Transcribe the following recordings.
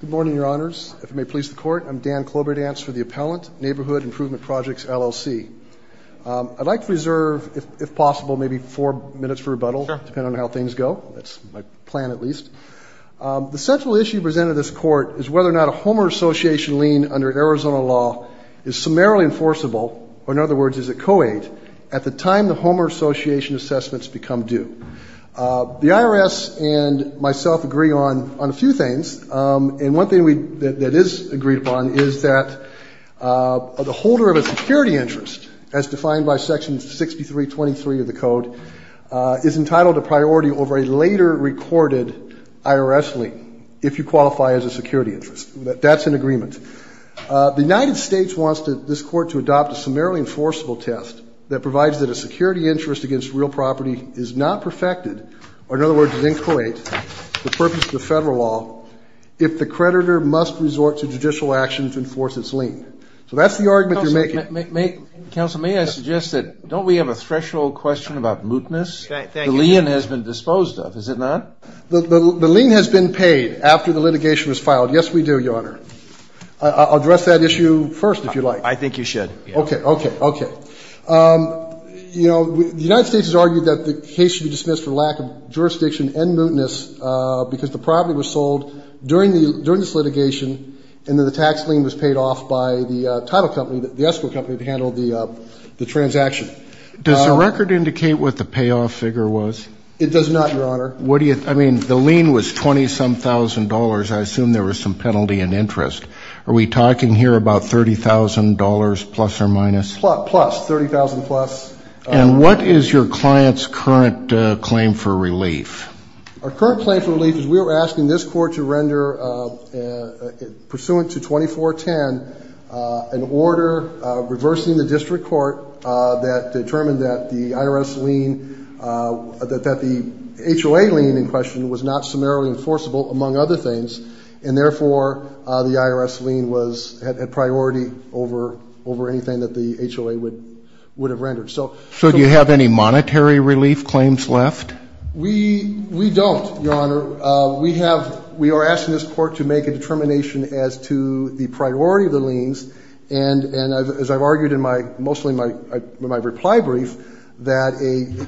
Good morning, Your Honors. If it may please the Court, I'm Dan Kloberdance for the Appellant, Neighborhood Improvement Projects, LLC. I'd like to reserve, if possible, maybe four minutes for rebuttal, depending on how things go. That's my plan, at least. The central issue presented to this Court is whether or not a homeowner association lien under Arizona law is summarily enforceable, or in other words, is it co-aid, at the time the homeowner association assessments become due. The IRS and myself agree on a few things. And one thing that is agreed upon is that the holder of a security interest, as defined by Section 6323 of the Code, is entitled to priority over a later recorded IRS lien, if you qualify as a security interest. That's an agreement. The United States wants this Court to adopt a summarily enforceable test that provides that a security interest against real property is not perfected, or in other words, is inco-aid, the purpose of the Federal law, if the creditor must resort to judicial action to enforce its lien. So that's the argument you're making. Counsel, may I suggest that don't we have a threshold question about mootness? Thank you. The lien has been disposed of, has it not? The lien has been paid after the litigation was filed. Yes, we do, Your Honor. I'll address that issue first, if you like. I think you should. Okay, okay, okay. You know, the United States has argued that the case should be dismissed for lack of jurisdiction and mootness because the property was sold during this litigation, and then the tax lien was paid off by the title company, the escrow company, to handle the transaction. Does the record indicate what the payoff figure was? It does not, Your Honor. I mean, the lien was 20-some-thousand dollars. I assume there was some penalty in interest. Are we talking here about $30,000 plus or minus? Plus, $30,000 plus. And what is your client's current claim for relief? Our current claim for relief is we were asking this court to render, pursuant to 2410, an order reversing the district court that determined that the IRS lien, that the HOA lien in question was not summarily enforceable, among other things, and therefore the IRS lien had priority over anything that the HOA would have rendered. So do you have any monetary relief claims left? We don't, Your Honor. We are asking this court to make a determination as to the priority of the liens. And as I've argued in mostly my reply brief, that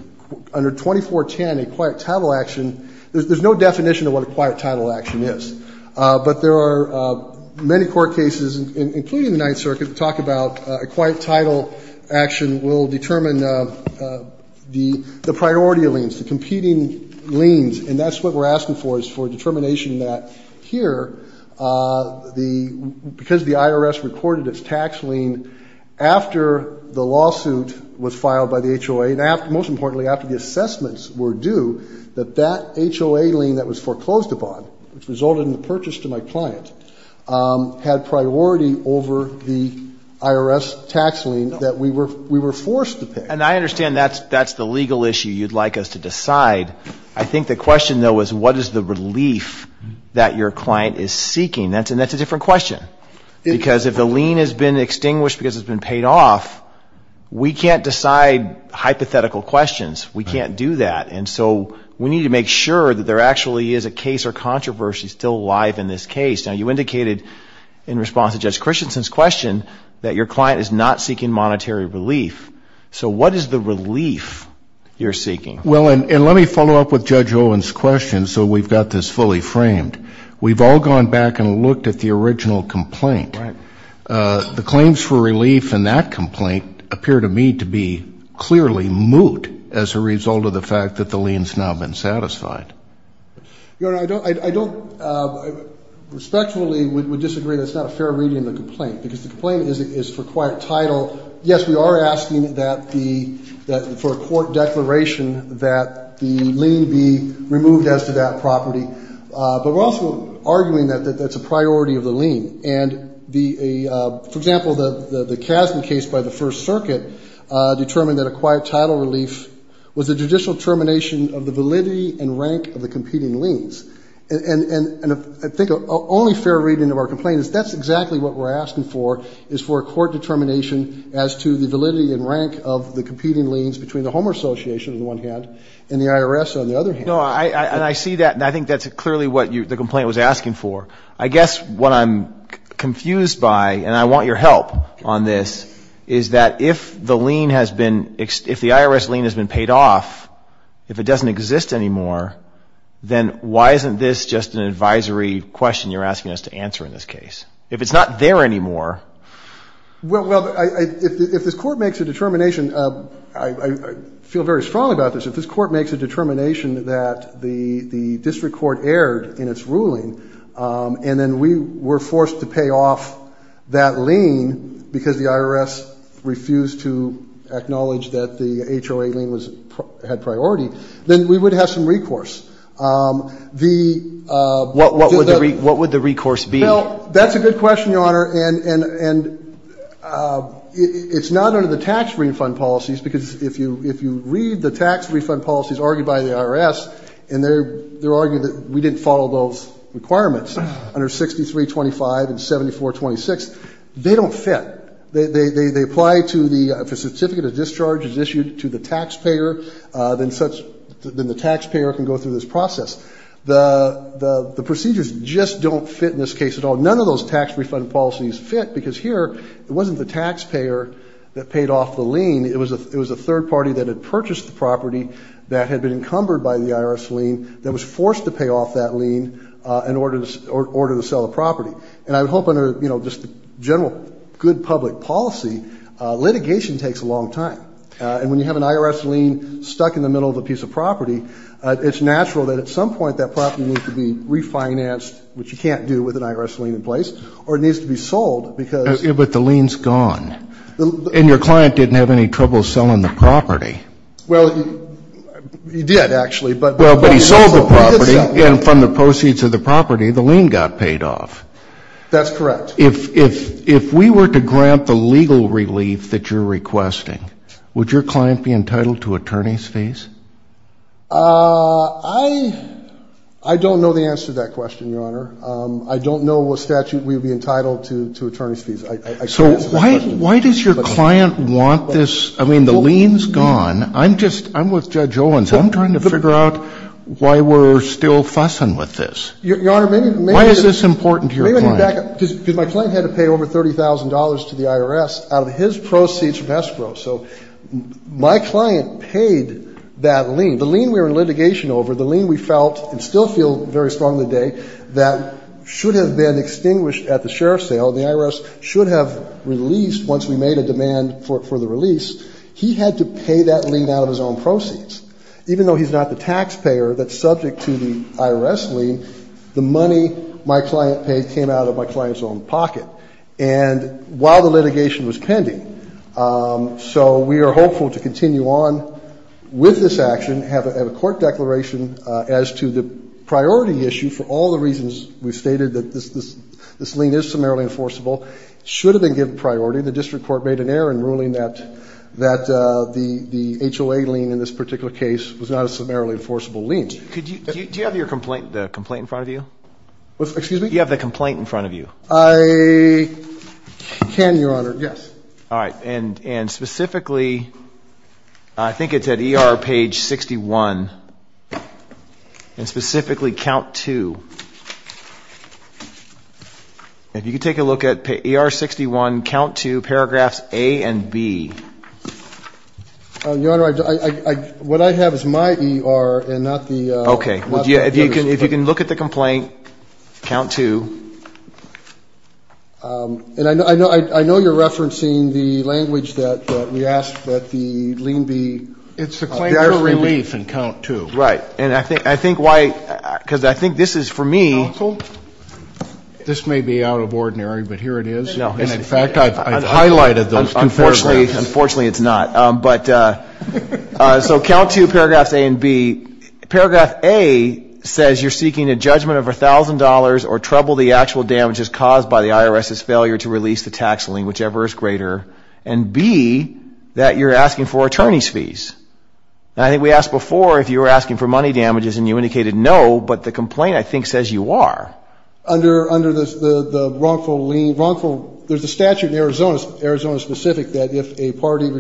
under 2410, a quiet title action, there's no definition of what a quiet title action is. But there are many court cases, including the Ninth Circuit, that talk about a quiet title action will determine the priority of liens, the competing liens. And that's what we're asking for, is for a determination that here, because the IRS recorded its tax lien after the lawsuit was filed by the HOA, and most importantly, after the assessments were due, that that HOA lien that was foreclosed upon, which resulted in the purchase to my client, had priority over the IRS tax lien that we were forced to pay. And I understand that's the legal issue you'd like us to decide. I think the question, though, is what is the relief that your client is seeking. And that's a different question, because if the lien has been extinguished because it's been paid off, we can't decide hypothetical questions. We can't do that. And so we need to make sure that there actually is a case or controversy still alive in this case. Now, you indicated in response to Judge Christensen's question that your client is not seeking monetary relief. So what is the relief you're seeking? Well, and let me follow up with Judge Owen's question so we've got this fully framed. We've all gone back and looked at the original complaint. The claims for relief in that complaint appear to me to be clearly moot as a result of the fact that the lien's now been satisfied. Your Honor, I don't respectfully would disagree that it's not a fair reading of the complaint, because the complaint is for quiet title. Yes, we are asking for a court declaration that the lien be removed as to that property. But we're also arguing that that's a priority of the lien. For example, the Kasman case by the First Circuit determined that a quiet title relief was a judicial termination of the validity and rank of the competing liens. And I think the only fair reading of our complaint is that's exactly what we're asking for, is for a court determination as to the validity and rank of the competing liens between the Homer Association, on the one hand, and the IRS, on the other hand. No, and I see that, and I think that's clearly what the complaint was asking for. I guess what I'm confused by, and I want your help on this, is that if the lien has been, if the IRS lien has been paid off, if it doesn't exist anymore, then why isn't this just an advisory question you're asking us to answer in this case? If it's not there anymore. Well, if this Court makes a determination, I feel very strongly about this, if this Court makes a determination that the district court erred in its ruling and then we were forced to pay off that lien because the IRS refused to acknowledge that the HOA lien had priority, then we would have some recourse. What would the recourse be? And it's not under the tax refund policies, because if you read the tax refund policies argued by the IRS, and they're arguing that we didn't follow those requirements under 6325 and 7426, they don't fit. They apply to the, if a certificate of discharge is issued to the taxpayer, then the taxpayer can go through this process. The procedures just don't fit in this case at all. None of those tax refund policies fit, because here it wasn't the taxpayer that paid off the lien. It was a third party that had purchased the property that had been encumbered by the IRS lien that was forced to pay off that lien in order to sell the property. And I hope under just the general good public policy, litigation takes a long time. And when you have an IRS lien stuck in the middle of a piece of property, it's natural that at some point that property needs to be refinanced, which you can't do with an IRS lien in place, or it needs to be sold, because. But the lien's gone. And your client didn't have any trouble selling the property. Well, he did, actually. Well, but he sold the property, and from the proceeds of the property, the lien got paid off. That's correct. If we were to grant the legal relief that you're requesting, would your client be entitled to attorney's fees? I don't know the answer to that question, Your Honor. I don't know what statute we would be entitled to attorney's fees. I can't answer that question. So why does your client want this? I mean, the lien's gone. I'm just – I'm with Judge Owens. I'm trying to figure out why we're still fussing with this. Your Honor, maybe. Why is this important to your client? Because my client had to pay over $30,000 to the IRS out of his proceeds from escrow. So my client paid that lien. The lien we were in litigation over, the lien we felt and still feel very strong today, that should have been extinguished at the sheriff's sale, the IRS should have released once we made a demand for the release, he had to pay that lien out of his own proceeds. Even though he's not the taxpayer that's subject to the IRS lien, the money my client paid came out of my client's own pocket. And while the litigation was pending. So we are hopeful to continue on with this action, have a court declaration as to the priority issue for all the reasons we've stated that this lien is summarily enforceable. It should have been given priority. The district court made an error in ruling that the HOA lien in this particular case was not a summarily enforceable lien. Do you have the complaint in front of you? Excuse me? Do you have the complaint in front of you? I can, Your Honor. Yes. All right. And specifically, I think it's at ER page 61. And specifically count two. If you could take a look at ER 61, count two, paragraphs A and B. Your Honor, what I have is my ER and not the. Okay. If you can look at the complaint, count two. And I know you're referencing the language that we asked that the lien be. It's a claim for relief in count two. Right. And I think why, because I think this is for me. Counsel, this may be out of ordinary, but here it is. And in fact, I've highlighted those two paragraphs. Unfortunately, it's not. But so count two, paragraphs A and B. Paragraph A says you're seeking a judgment of $1,000 or trouble the actual damages caused by the IRS's failure to release the tax lien, whichever is greater. And B, that you're asking for attorney's fees. And I think we asked before if you were asking for money damages, and you indicated no, but the complaint, I think, says you are. Under the wrongful lien, wrongful, there's a statute in Arizona, Arizona specific, that if a party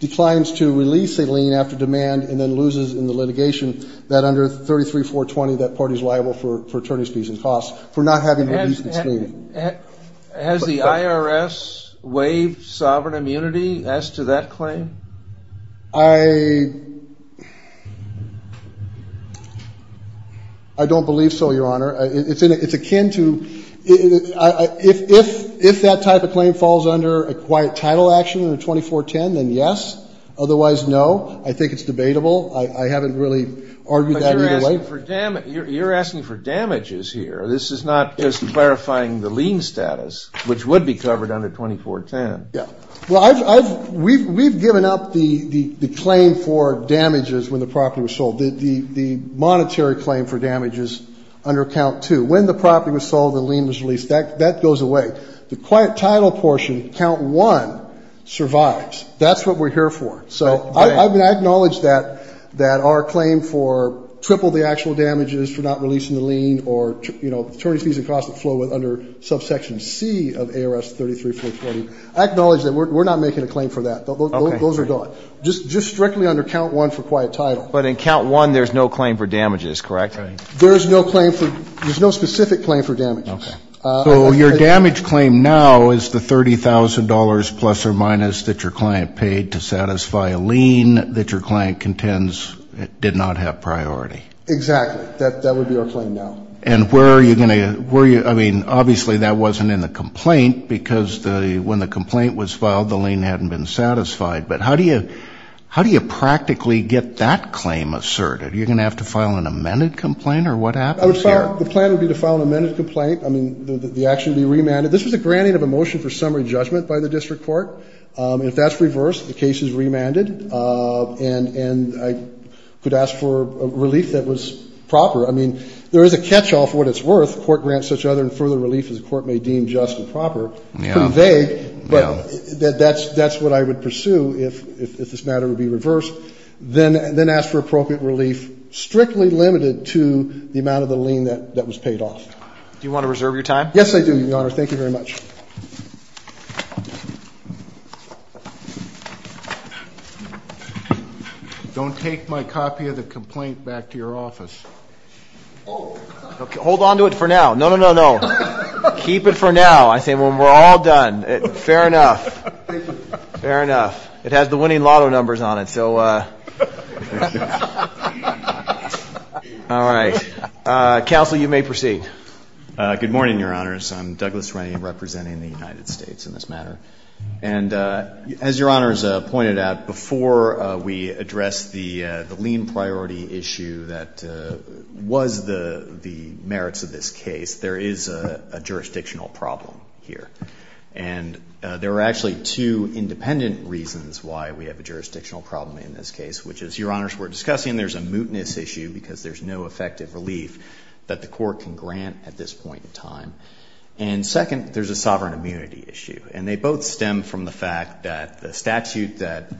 declines to release a lien after demand and then loses in the litigation, that under 33-420, that party is liable for attorney's fees and costs for not having released this lien. Has the IRS waived sovereign immunity as to that claim? I don't believe so, Your Honor. It's akin to, if that type of claim falls under a quiet title action under 2410, then yes. Otherwise, no. I think it's debatable. I haven't really argued that either way. But you're asking for damages here. This is not just clarifying the lien status, which would be covered under 2410. Yeah. Well, I've, we've given up the claim for damages when the property was sold. The monetary claim for damages under count two. When the property was sold, the lien was released. That goes away. The quiet title portion, count one, survives. That's what we're here for. So I acknowledge that our claim for triple the actual damages for not releasing the lien or attorney's fees and costs that flow under subsection C of ARS 33-420. I acknowledge that we're not making a claim for that. Those are gone. Just strictly under count one for quiet title. But in count one, there's no claim for damages, correct? There is no claim for, there's no specific claim for damages. Okay. So your damage claim now is the $30,000 plus or minus that your client paid to satisfy a lien that your client contends did not have priority. Exactly. That would be our claim now. And where are you going to, where are you, I mean, obviously that wasn't in the complaint because when the complaint was filed, the lien hadn't been satisfied. But how do you, how do you practically get that claim asserted? Are you going to have to file an amended complaint or what happens here? The plan would be to file an amended complaint. I mean, the action would be remanded. This was a granting of a motion for summary judgment by the district court. If that's reversed, the case is remanded. And I could ask for a relief that was proper. I mean, there is a catch-all for what it's worth. The court grants such other and further relief as the court may deem just and proper. It's pretty vague. But that's what I would pursue if this matter would be reversed. Then ask for appropriate relief strictly limited to the amount of the lien that was paid off. Do you want to reserve your time? Yes, I do, Your Honor. Thank you very much. Don't take my copy of the complaint back to your office. Hold on to it for now. No, no, no, no. Keep it for now. I say when we're all done. Fair enough. Fair enough. It has the winning lotto numbers on it. So all right. Counsel, you may proceed. Good morning, Your Honors. I'm Douglas Ray representing the United States in this matter. And as Your Honors pointed out, before we address the lien priority issue that was the merits of this case, there is a jurisdictional problem here. And there are actually two independent reasons why we have a jurisdictional problem in this case, which is, Your Honors, we're discussing there's a mootness issue because there's no effective relief that the court can grant at this point in time. And second, there's a sovereign immunity issue. And they both stem from the fact that the statute that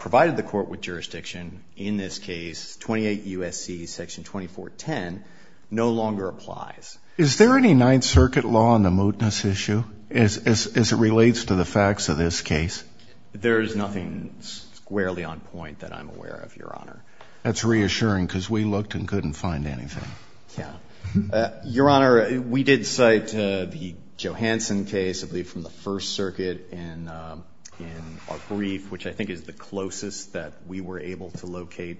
provided the court with jurisdiction in this case, 28 U.S.C. Section 2410, no longer applies. Is there any Ninth Circuit law on the mootness issue as it relates to the facts of this case? There is nothing squarely on point that I'm aware of, Your Honor. That's reassuring because we looked and couldn't find anything. Yeah. Your Honor, we did cite the Johanson case, I believe, from the First Circuit in our brief, which I think is the closest that we were able to locate.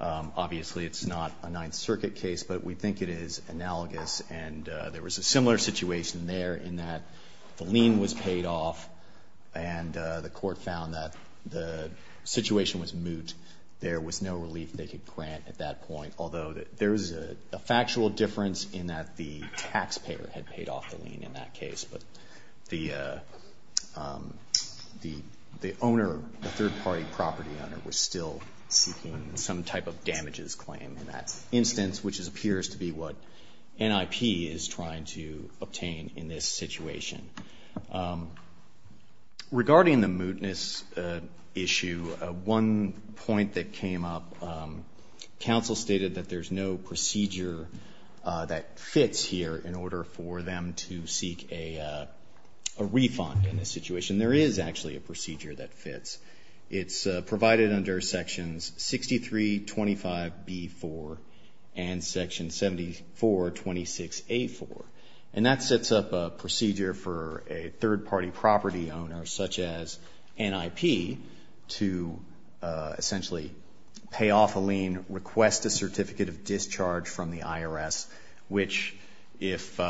Obviously, it's not a Ninth Circuit case, but we think it is analogous. And there was a similar situation there in that the lien was paid off and the court found that the situation was moot. There was no relief they could grant at that point, although there is a factual difference in that the taxpayer had paid off the lien in that case. But the owner, the third-party property owner, was still seeking some type of damages claim in that instance, which appears to be what NIP is trying to obtain in this situation. Regarding the mootness issue, one point that came up, counsel stated that there's no procedure that fits here in order for them to seek a refund in this situation. There is actually a procedure that fits. It's provided under Sections 6325B-4 and Section 7426A-4. And that sets up a procedure for a third-party property owner, such as NIP, to essentially pay off a lien, request a certificate of discharge from the IRS, which if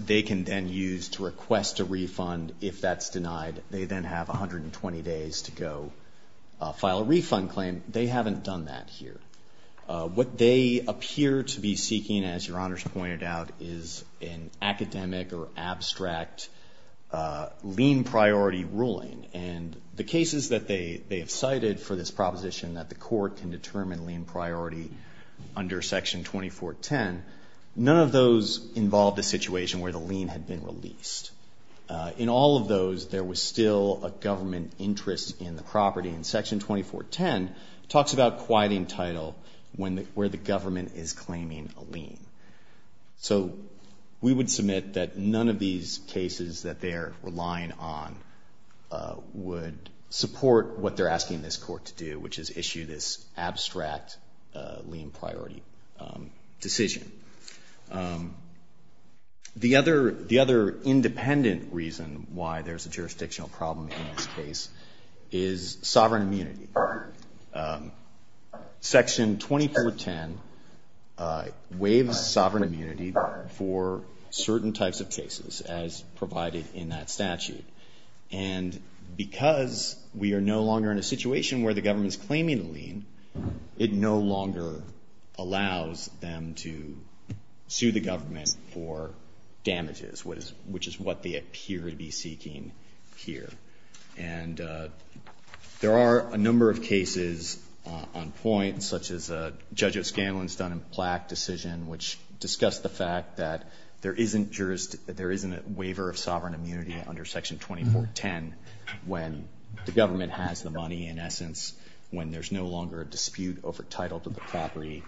they can then use to request a refund, if that's denied, they then have 120 days to go file a refund claim. They haven't done that here. What they appear to be seeking, as Your Honors pointed out, is an academic or abstract lien priority ruling. And the cases that they have cited for this proposition that the court can determine lien priority under Section 2410, none of those involve the situation where the lien had been released. In all of those, there was still a government interest in the property. And Section 2410 talks about quieting title where the government is claiming a lien. So we would submit that none of these cases that they're relying on would support what they're asking this court to do, which is issue this abstract lien priority decision. The other independent reason why there's a jurisdictional problem in this case is sovereign immunity. Section 2410 waives sovereign immunity for certain types of cases, as provided in that statute. And because we are no longer in a situation where the government is claiming a lien, it no longer allows them to sue the government for damages, which is what they appear to be seeking here. And there are a number of cases on point, such as Judge O'Scanlan's Dun & Platt decision, which discussed the fact that there isn't a waiver of sovereign immunity under Section 2410 when the government has the money, in essence, when there's no longer a dispute over title to the property.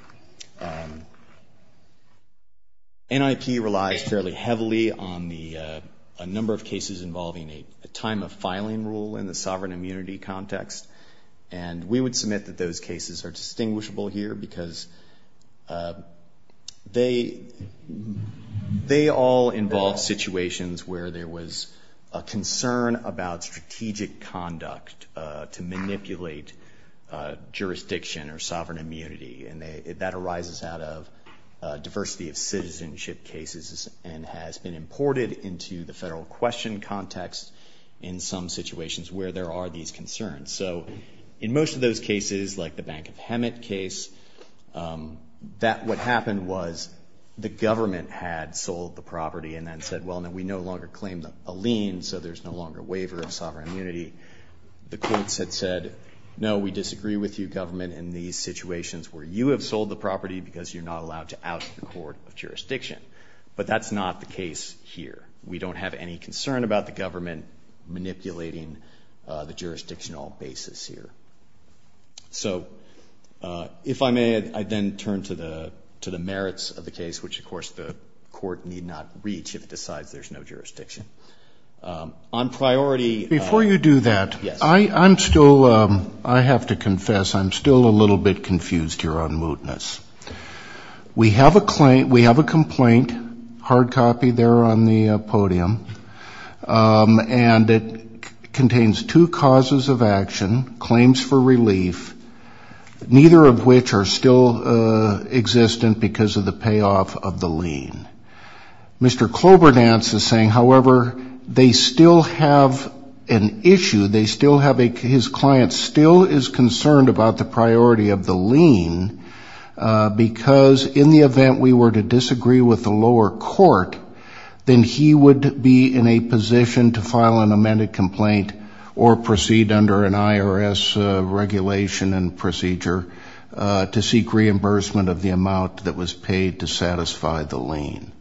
NIP relies fairly heavily on a number of cases involving a time of filing rule in the sovereign immunity context. And we would submit that those cases are distinguishable here, because they all involve situations where there was a concern about strategic conduct to manipulate jurisdiction or sovereign immunity. And that arises out of diversity of citizenship cases and has been imported into the federal question context in some situations where there are these concerns. So in most of those cases, like the Bank of Hemet case, what happened was the government had sold the property and then said, well, no, we no longer claim a lien, so there's no longer a waiver of sovereign immunity. The courts had said, no, we disagree with you, government, in these situations where you have sold the property because you're not allowed to out the court of jurisdiction. But that's not the case here. We don't have any concern about the government manipulating the jurisdictional basis here. So if I may, I'd then turn to the merits of the case, which, of course, the court need not reach if it decides there's no jurisdiction. On priority of... Before you do that, I'm still, I have to confess, I'm still a little bit confused here on mootness. We have a complaint, hard copy there on the podium, and it contains two causes of action, claims for relief, neither of which are still existent because of the payoff of the lien. Mr. Cloberdance is saying, however, they still have an issue, they still have a, his client still is concerned about the priority of the lien because in the event we were to disagree with the lower court, then he would be in a position to file an amended complaint or proceed under an IRS regulation and procedure to seek reimbursement of the amount that was paid to satisfy the lien.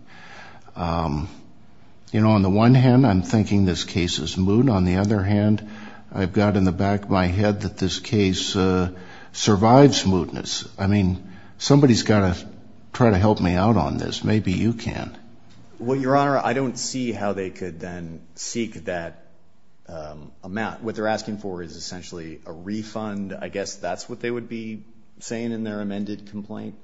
You know, on the one hand, I'm thinking this case is moot. On the other hand, I've got in the back of my head that this case survives mootness. I mean, somebody's got to try to help me out on this. Maybe you can. Well, Your Honor, I don't see how they could then seek that amount. What they're asking for is essentially a refund. I guess that's what they would be saying in their amended complaint.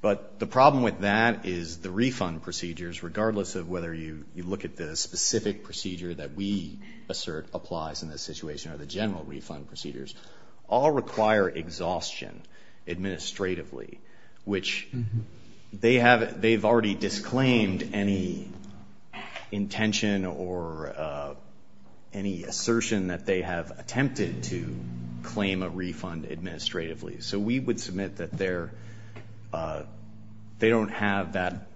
But the problem with that is the refund procedures, regardless of whether you look at the specific procedure that we assert applies in this situation, or the general refund procedures, all require exhaustion administratively, which they have already disclaimed any intention or any assertion that they have attempted to claim a refund administratively. So we would submit that they don't have that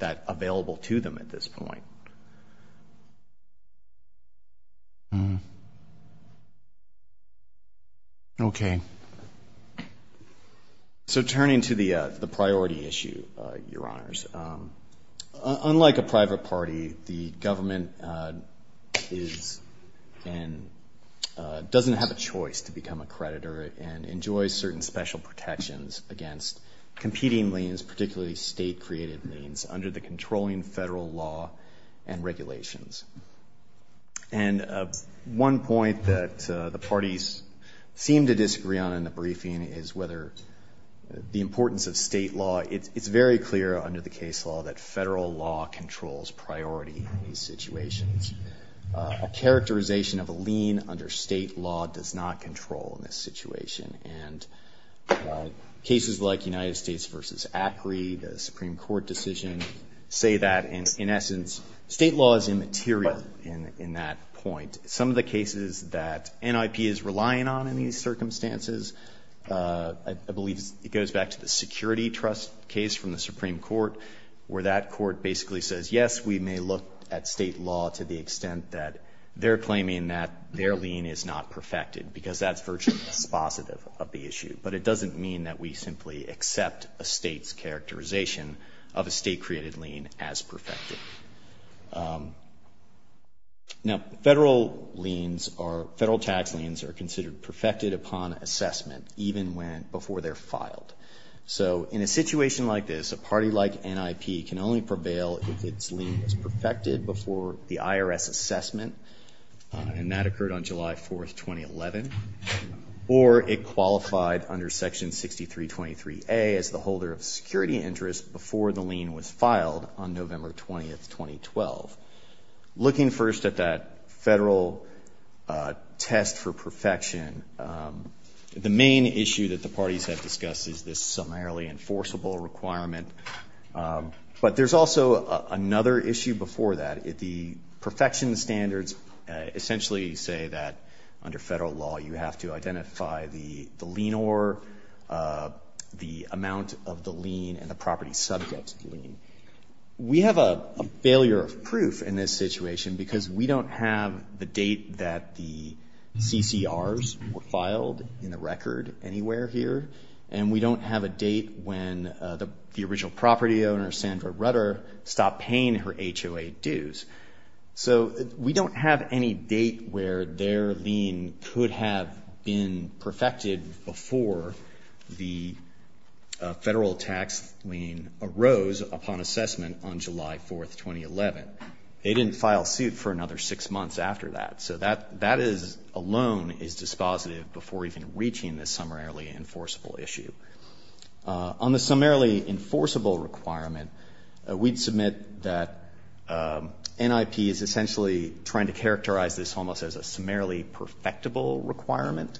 available to them at this point. Okay. So turning to the priority issue, Your Honors, unlike a private party, doesn't have a choice to become a creditor and enjoys certain special protections against competing liens, particularly state-created liens, under the controlling federal law and regulations. And one point that the parties seem to disagree on in the briefing is whether the importance of state law. It's very clear under the case law that federal law controls priority in these situations. A characterization of a lien under state law does not control in this situation. And cases like United States v. ACRI, the Supreme Court decision, say that in essence state law is immaterial in that point. Some of the cases that NIP is relying on in these circumstances, I believe it goes back to the security trust case from the Supreme Court, where that court basically says, yes, we may look at state law to the extent that they're claiming that their lien is not perfected, because that's virtually dispositive of the issue. But it doesn't mean that we simply accept a state's characterization of a state-created lien as perfected. Now, federal liens or federal tax liens are considered perfected upon assessment, even before they're filed. So in a situation like this, a party like NIP can only prevail if its lien is perfected before the IRS assessment. And that occurred on July 4, 2011. Or it qualified under Section 6323A as the holder of security interest before the lien was filed on November 20, 2012. Looking first at that federal test for perfection, the main issue that the parties have discussed is this summarily enforceable requirement. But there's also another issue before that. The perfection standards essentially say that under federal law you have to identify the lien or the amount of the lien and the property subject to the lien. We have a failure of proof in this situation because we don't have the date that the CCRs were filed in the record. And we don't have a date when the original property owner, Sandra Rutter, stopped paying her HOA dues. So we don't have any date where their lien could have been perfected before the federal tax lien arose upon assessment on July 4, 2011. They didn't file suit for another six months after that. So that alone is dispositive before even reaching the summarily enforceable issue. On the summarily enforceable requirement, we'd submit that NIP is essentially trying to characterize this almost as a summarily perfectable requirement.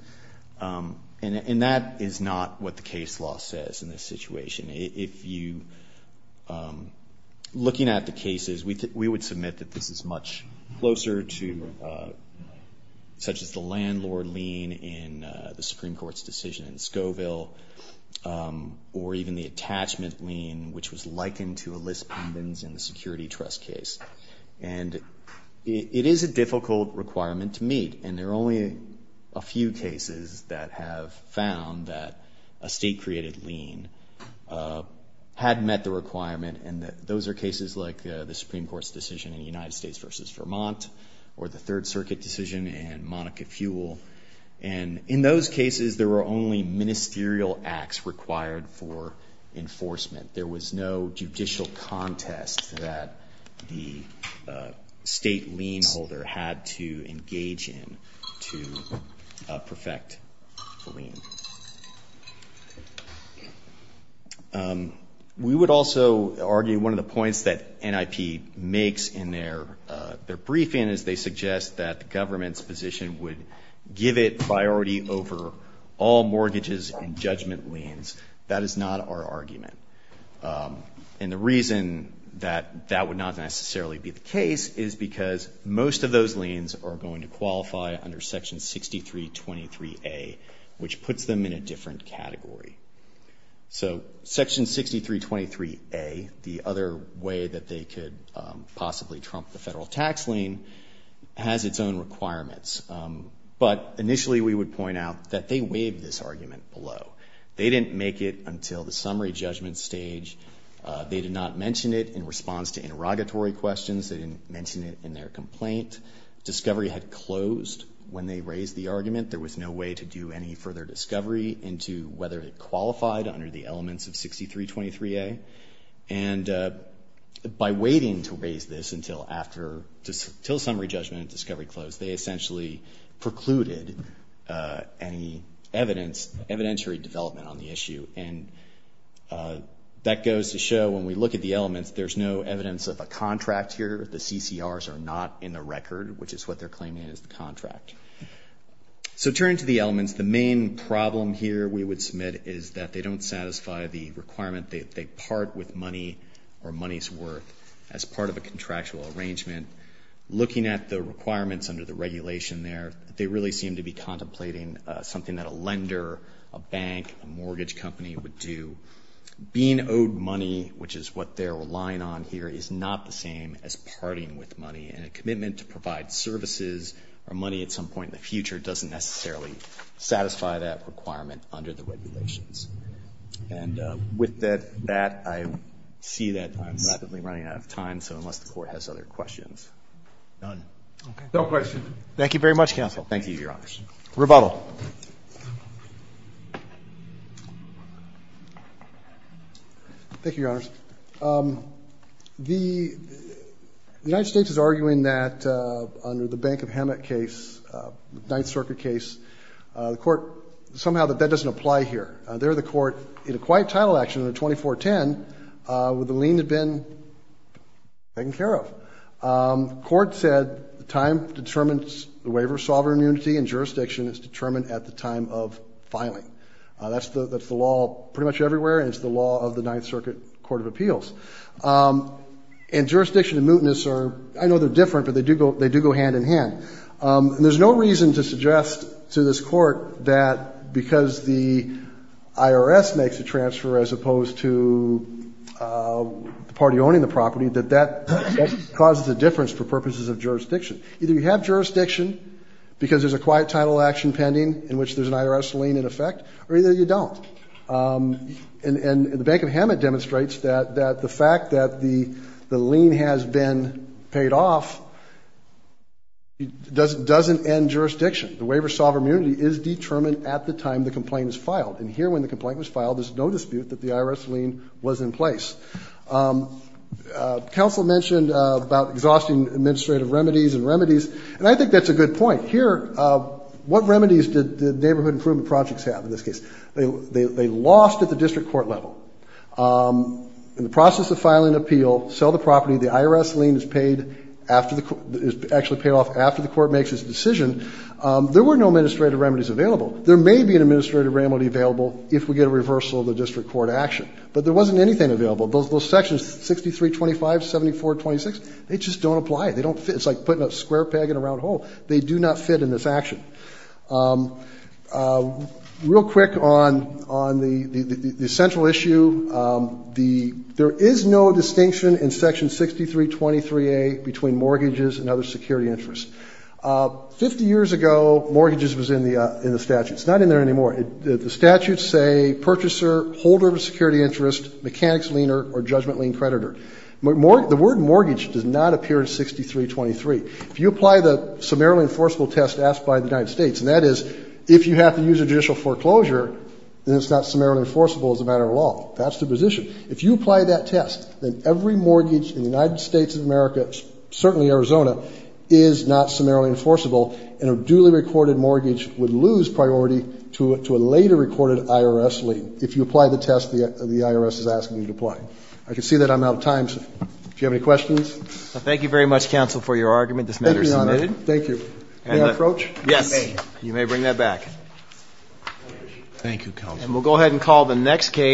And that is not what the case law says in this situation. Looking at the cases, we would submit that this is much closer to such as the landlord lien in the Supreme Court's decision in Scoville or even the attachment lien which was likened to a list pendants in the security trust case. And it is a difficult requirement to meet. And there are only a few cases that have found that a state-created lien had met the requirement. And those are cases like the Supreme Court's decision in the United States versus Vermont or the Third Circuit decision in Monica Fuel. And in those cases, there were only ministerial acts required for enforcement. There was no judicial contest that the state lien holder had to engage in to perfect the lien. We would also argue one of the points that NIP makes in their briefing is they suggest that the government's position would give it priority over all mortgages and judgment liens. That is not our argument. And the reason that that would not necessarily be the case is because most of those liens are going to qualify under Section 6323A, which puts them in a different category. So Section 6323A, the other way that they could possibly trump the federal tax lien, has its own requirements. But initially, we would point out that they waived this argument below. They didn't make it until the summary judgment stage. They did not mention it in response to interrogatory questions. They didn't mention it in their complaint. Discovery had closed when they raised the argument. There was no way to do any further discovery into whether it qualified under the elements of 6323A. And by waiting to raise this until after, until summary judgment and discovery closed, they essentially precluded any evidence, evidentiary development on the issue. And that goes to show when we look at the elements, there's no evidence of a contract here. The CCRs are not in the record, which is what they're claiming is the contract. So turning to the elements, the main problem here we would submit is that they don't satisfy the requirement that they part with money or money's worth as part of a contractual arrangement. Looking at the requirements under the regulation there, they really seem to be contemplating something that a lender, a bank, a mortgage company would do. Being owed money, which is what they're relying on here, is not the same as parting with money. And a commitment to provide services or money at some point in the future doesn't necessarily satisfy that requirement under the regulations. And with that, I see that I'm rapidly running out of time, so unless the Court has other questions. None. No questions. Thank you very much, counsel. Thank you, Your Honors. Rebuttal. Thank you, Your Honors. The United States is arguing that under the Bank of Hammock case, Ninth Circuit case, the Court somehow that that doesn't apply here. There the Court, in a quiet title action under 2410, with the lien had been taken care of. The Court said the time determines the waiver of sovereign immunity and jurisdiction is determined at the time of filing. That's the law pretty much everywhere, and it's the law of the Ninth Circuit Court of Appeals. And jurisdiction and mootness are, I know they're different, but they do go hand in hand. And there's no reason to suggest to this Court that because the IRS makes a transfer as opposed to the party owning the property, that that causes a difference for purposes of jurisdiction. Either you have jurisdiction because there's a quiet title action pending in which there's an IRS lien in effect, or either you don't. And the Bank of Hammock demonstrates that the fact that the lien has been paid off doesn't end jurisdiction. The waiver of sovereign immunity is determined at the time the complaint is filed. And here when the complaint was filed, there's no dispute that the IRS lien was in place. Counsel mentioned about exhausting administrative remedies and remedies, and I think that's a good point. Here, what remedies did the Neighborhood Improvement Projects have in this case? They lost at the district court level. In the process of filing an appeal, sell the property, the IRS lien is paid after the Court, is actually paid off after the Court makes its decision. There were no administrative remedies available. There may be an administrative remedy available if we get a reversal of the district court action. But there wasn't anything available. Those Sections 6325, 7426, they just don't apply. They don't fit. It's like putting a square peg in a round hole. They do not fit in this action. Real quick on the central issue, there is no distinction in Section 6323A between mortgages and other security interests. Fifty years ago, mortgages was in the statute. It's not in there anymore. The statutes say purchaser, holder of a security interest, mechanics lien or judgment lien creditor. The word mortgage does not appear in 6323. If you apply the summarily enforceable test asked by the United States, and that is if you have to use a judicial foreclosure, then it's not summarily enforceable as a matter of law. That's the position. If you apply that test, then every mortgage in the United States of America, certainly Arizona, is not summarily enforceable, and a duly recorded mortgage would lose priority to a later recorded IRS lien. If you apply the test, the IRS is asking you to apply it. I can see that I'm out of time. Do you have any questions? Thank you very much, Counsel, for your argument. This matter is submitted. Thank you, Your Honor. Thank you. May I approach? Yes. You may bring that back. Thank you, Counsel. And we'll go ahead and call the next case.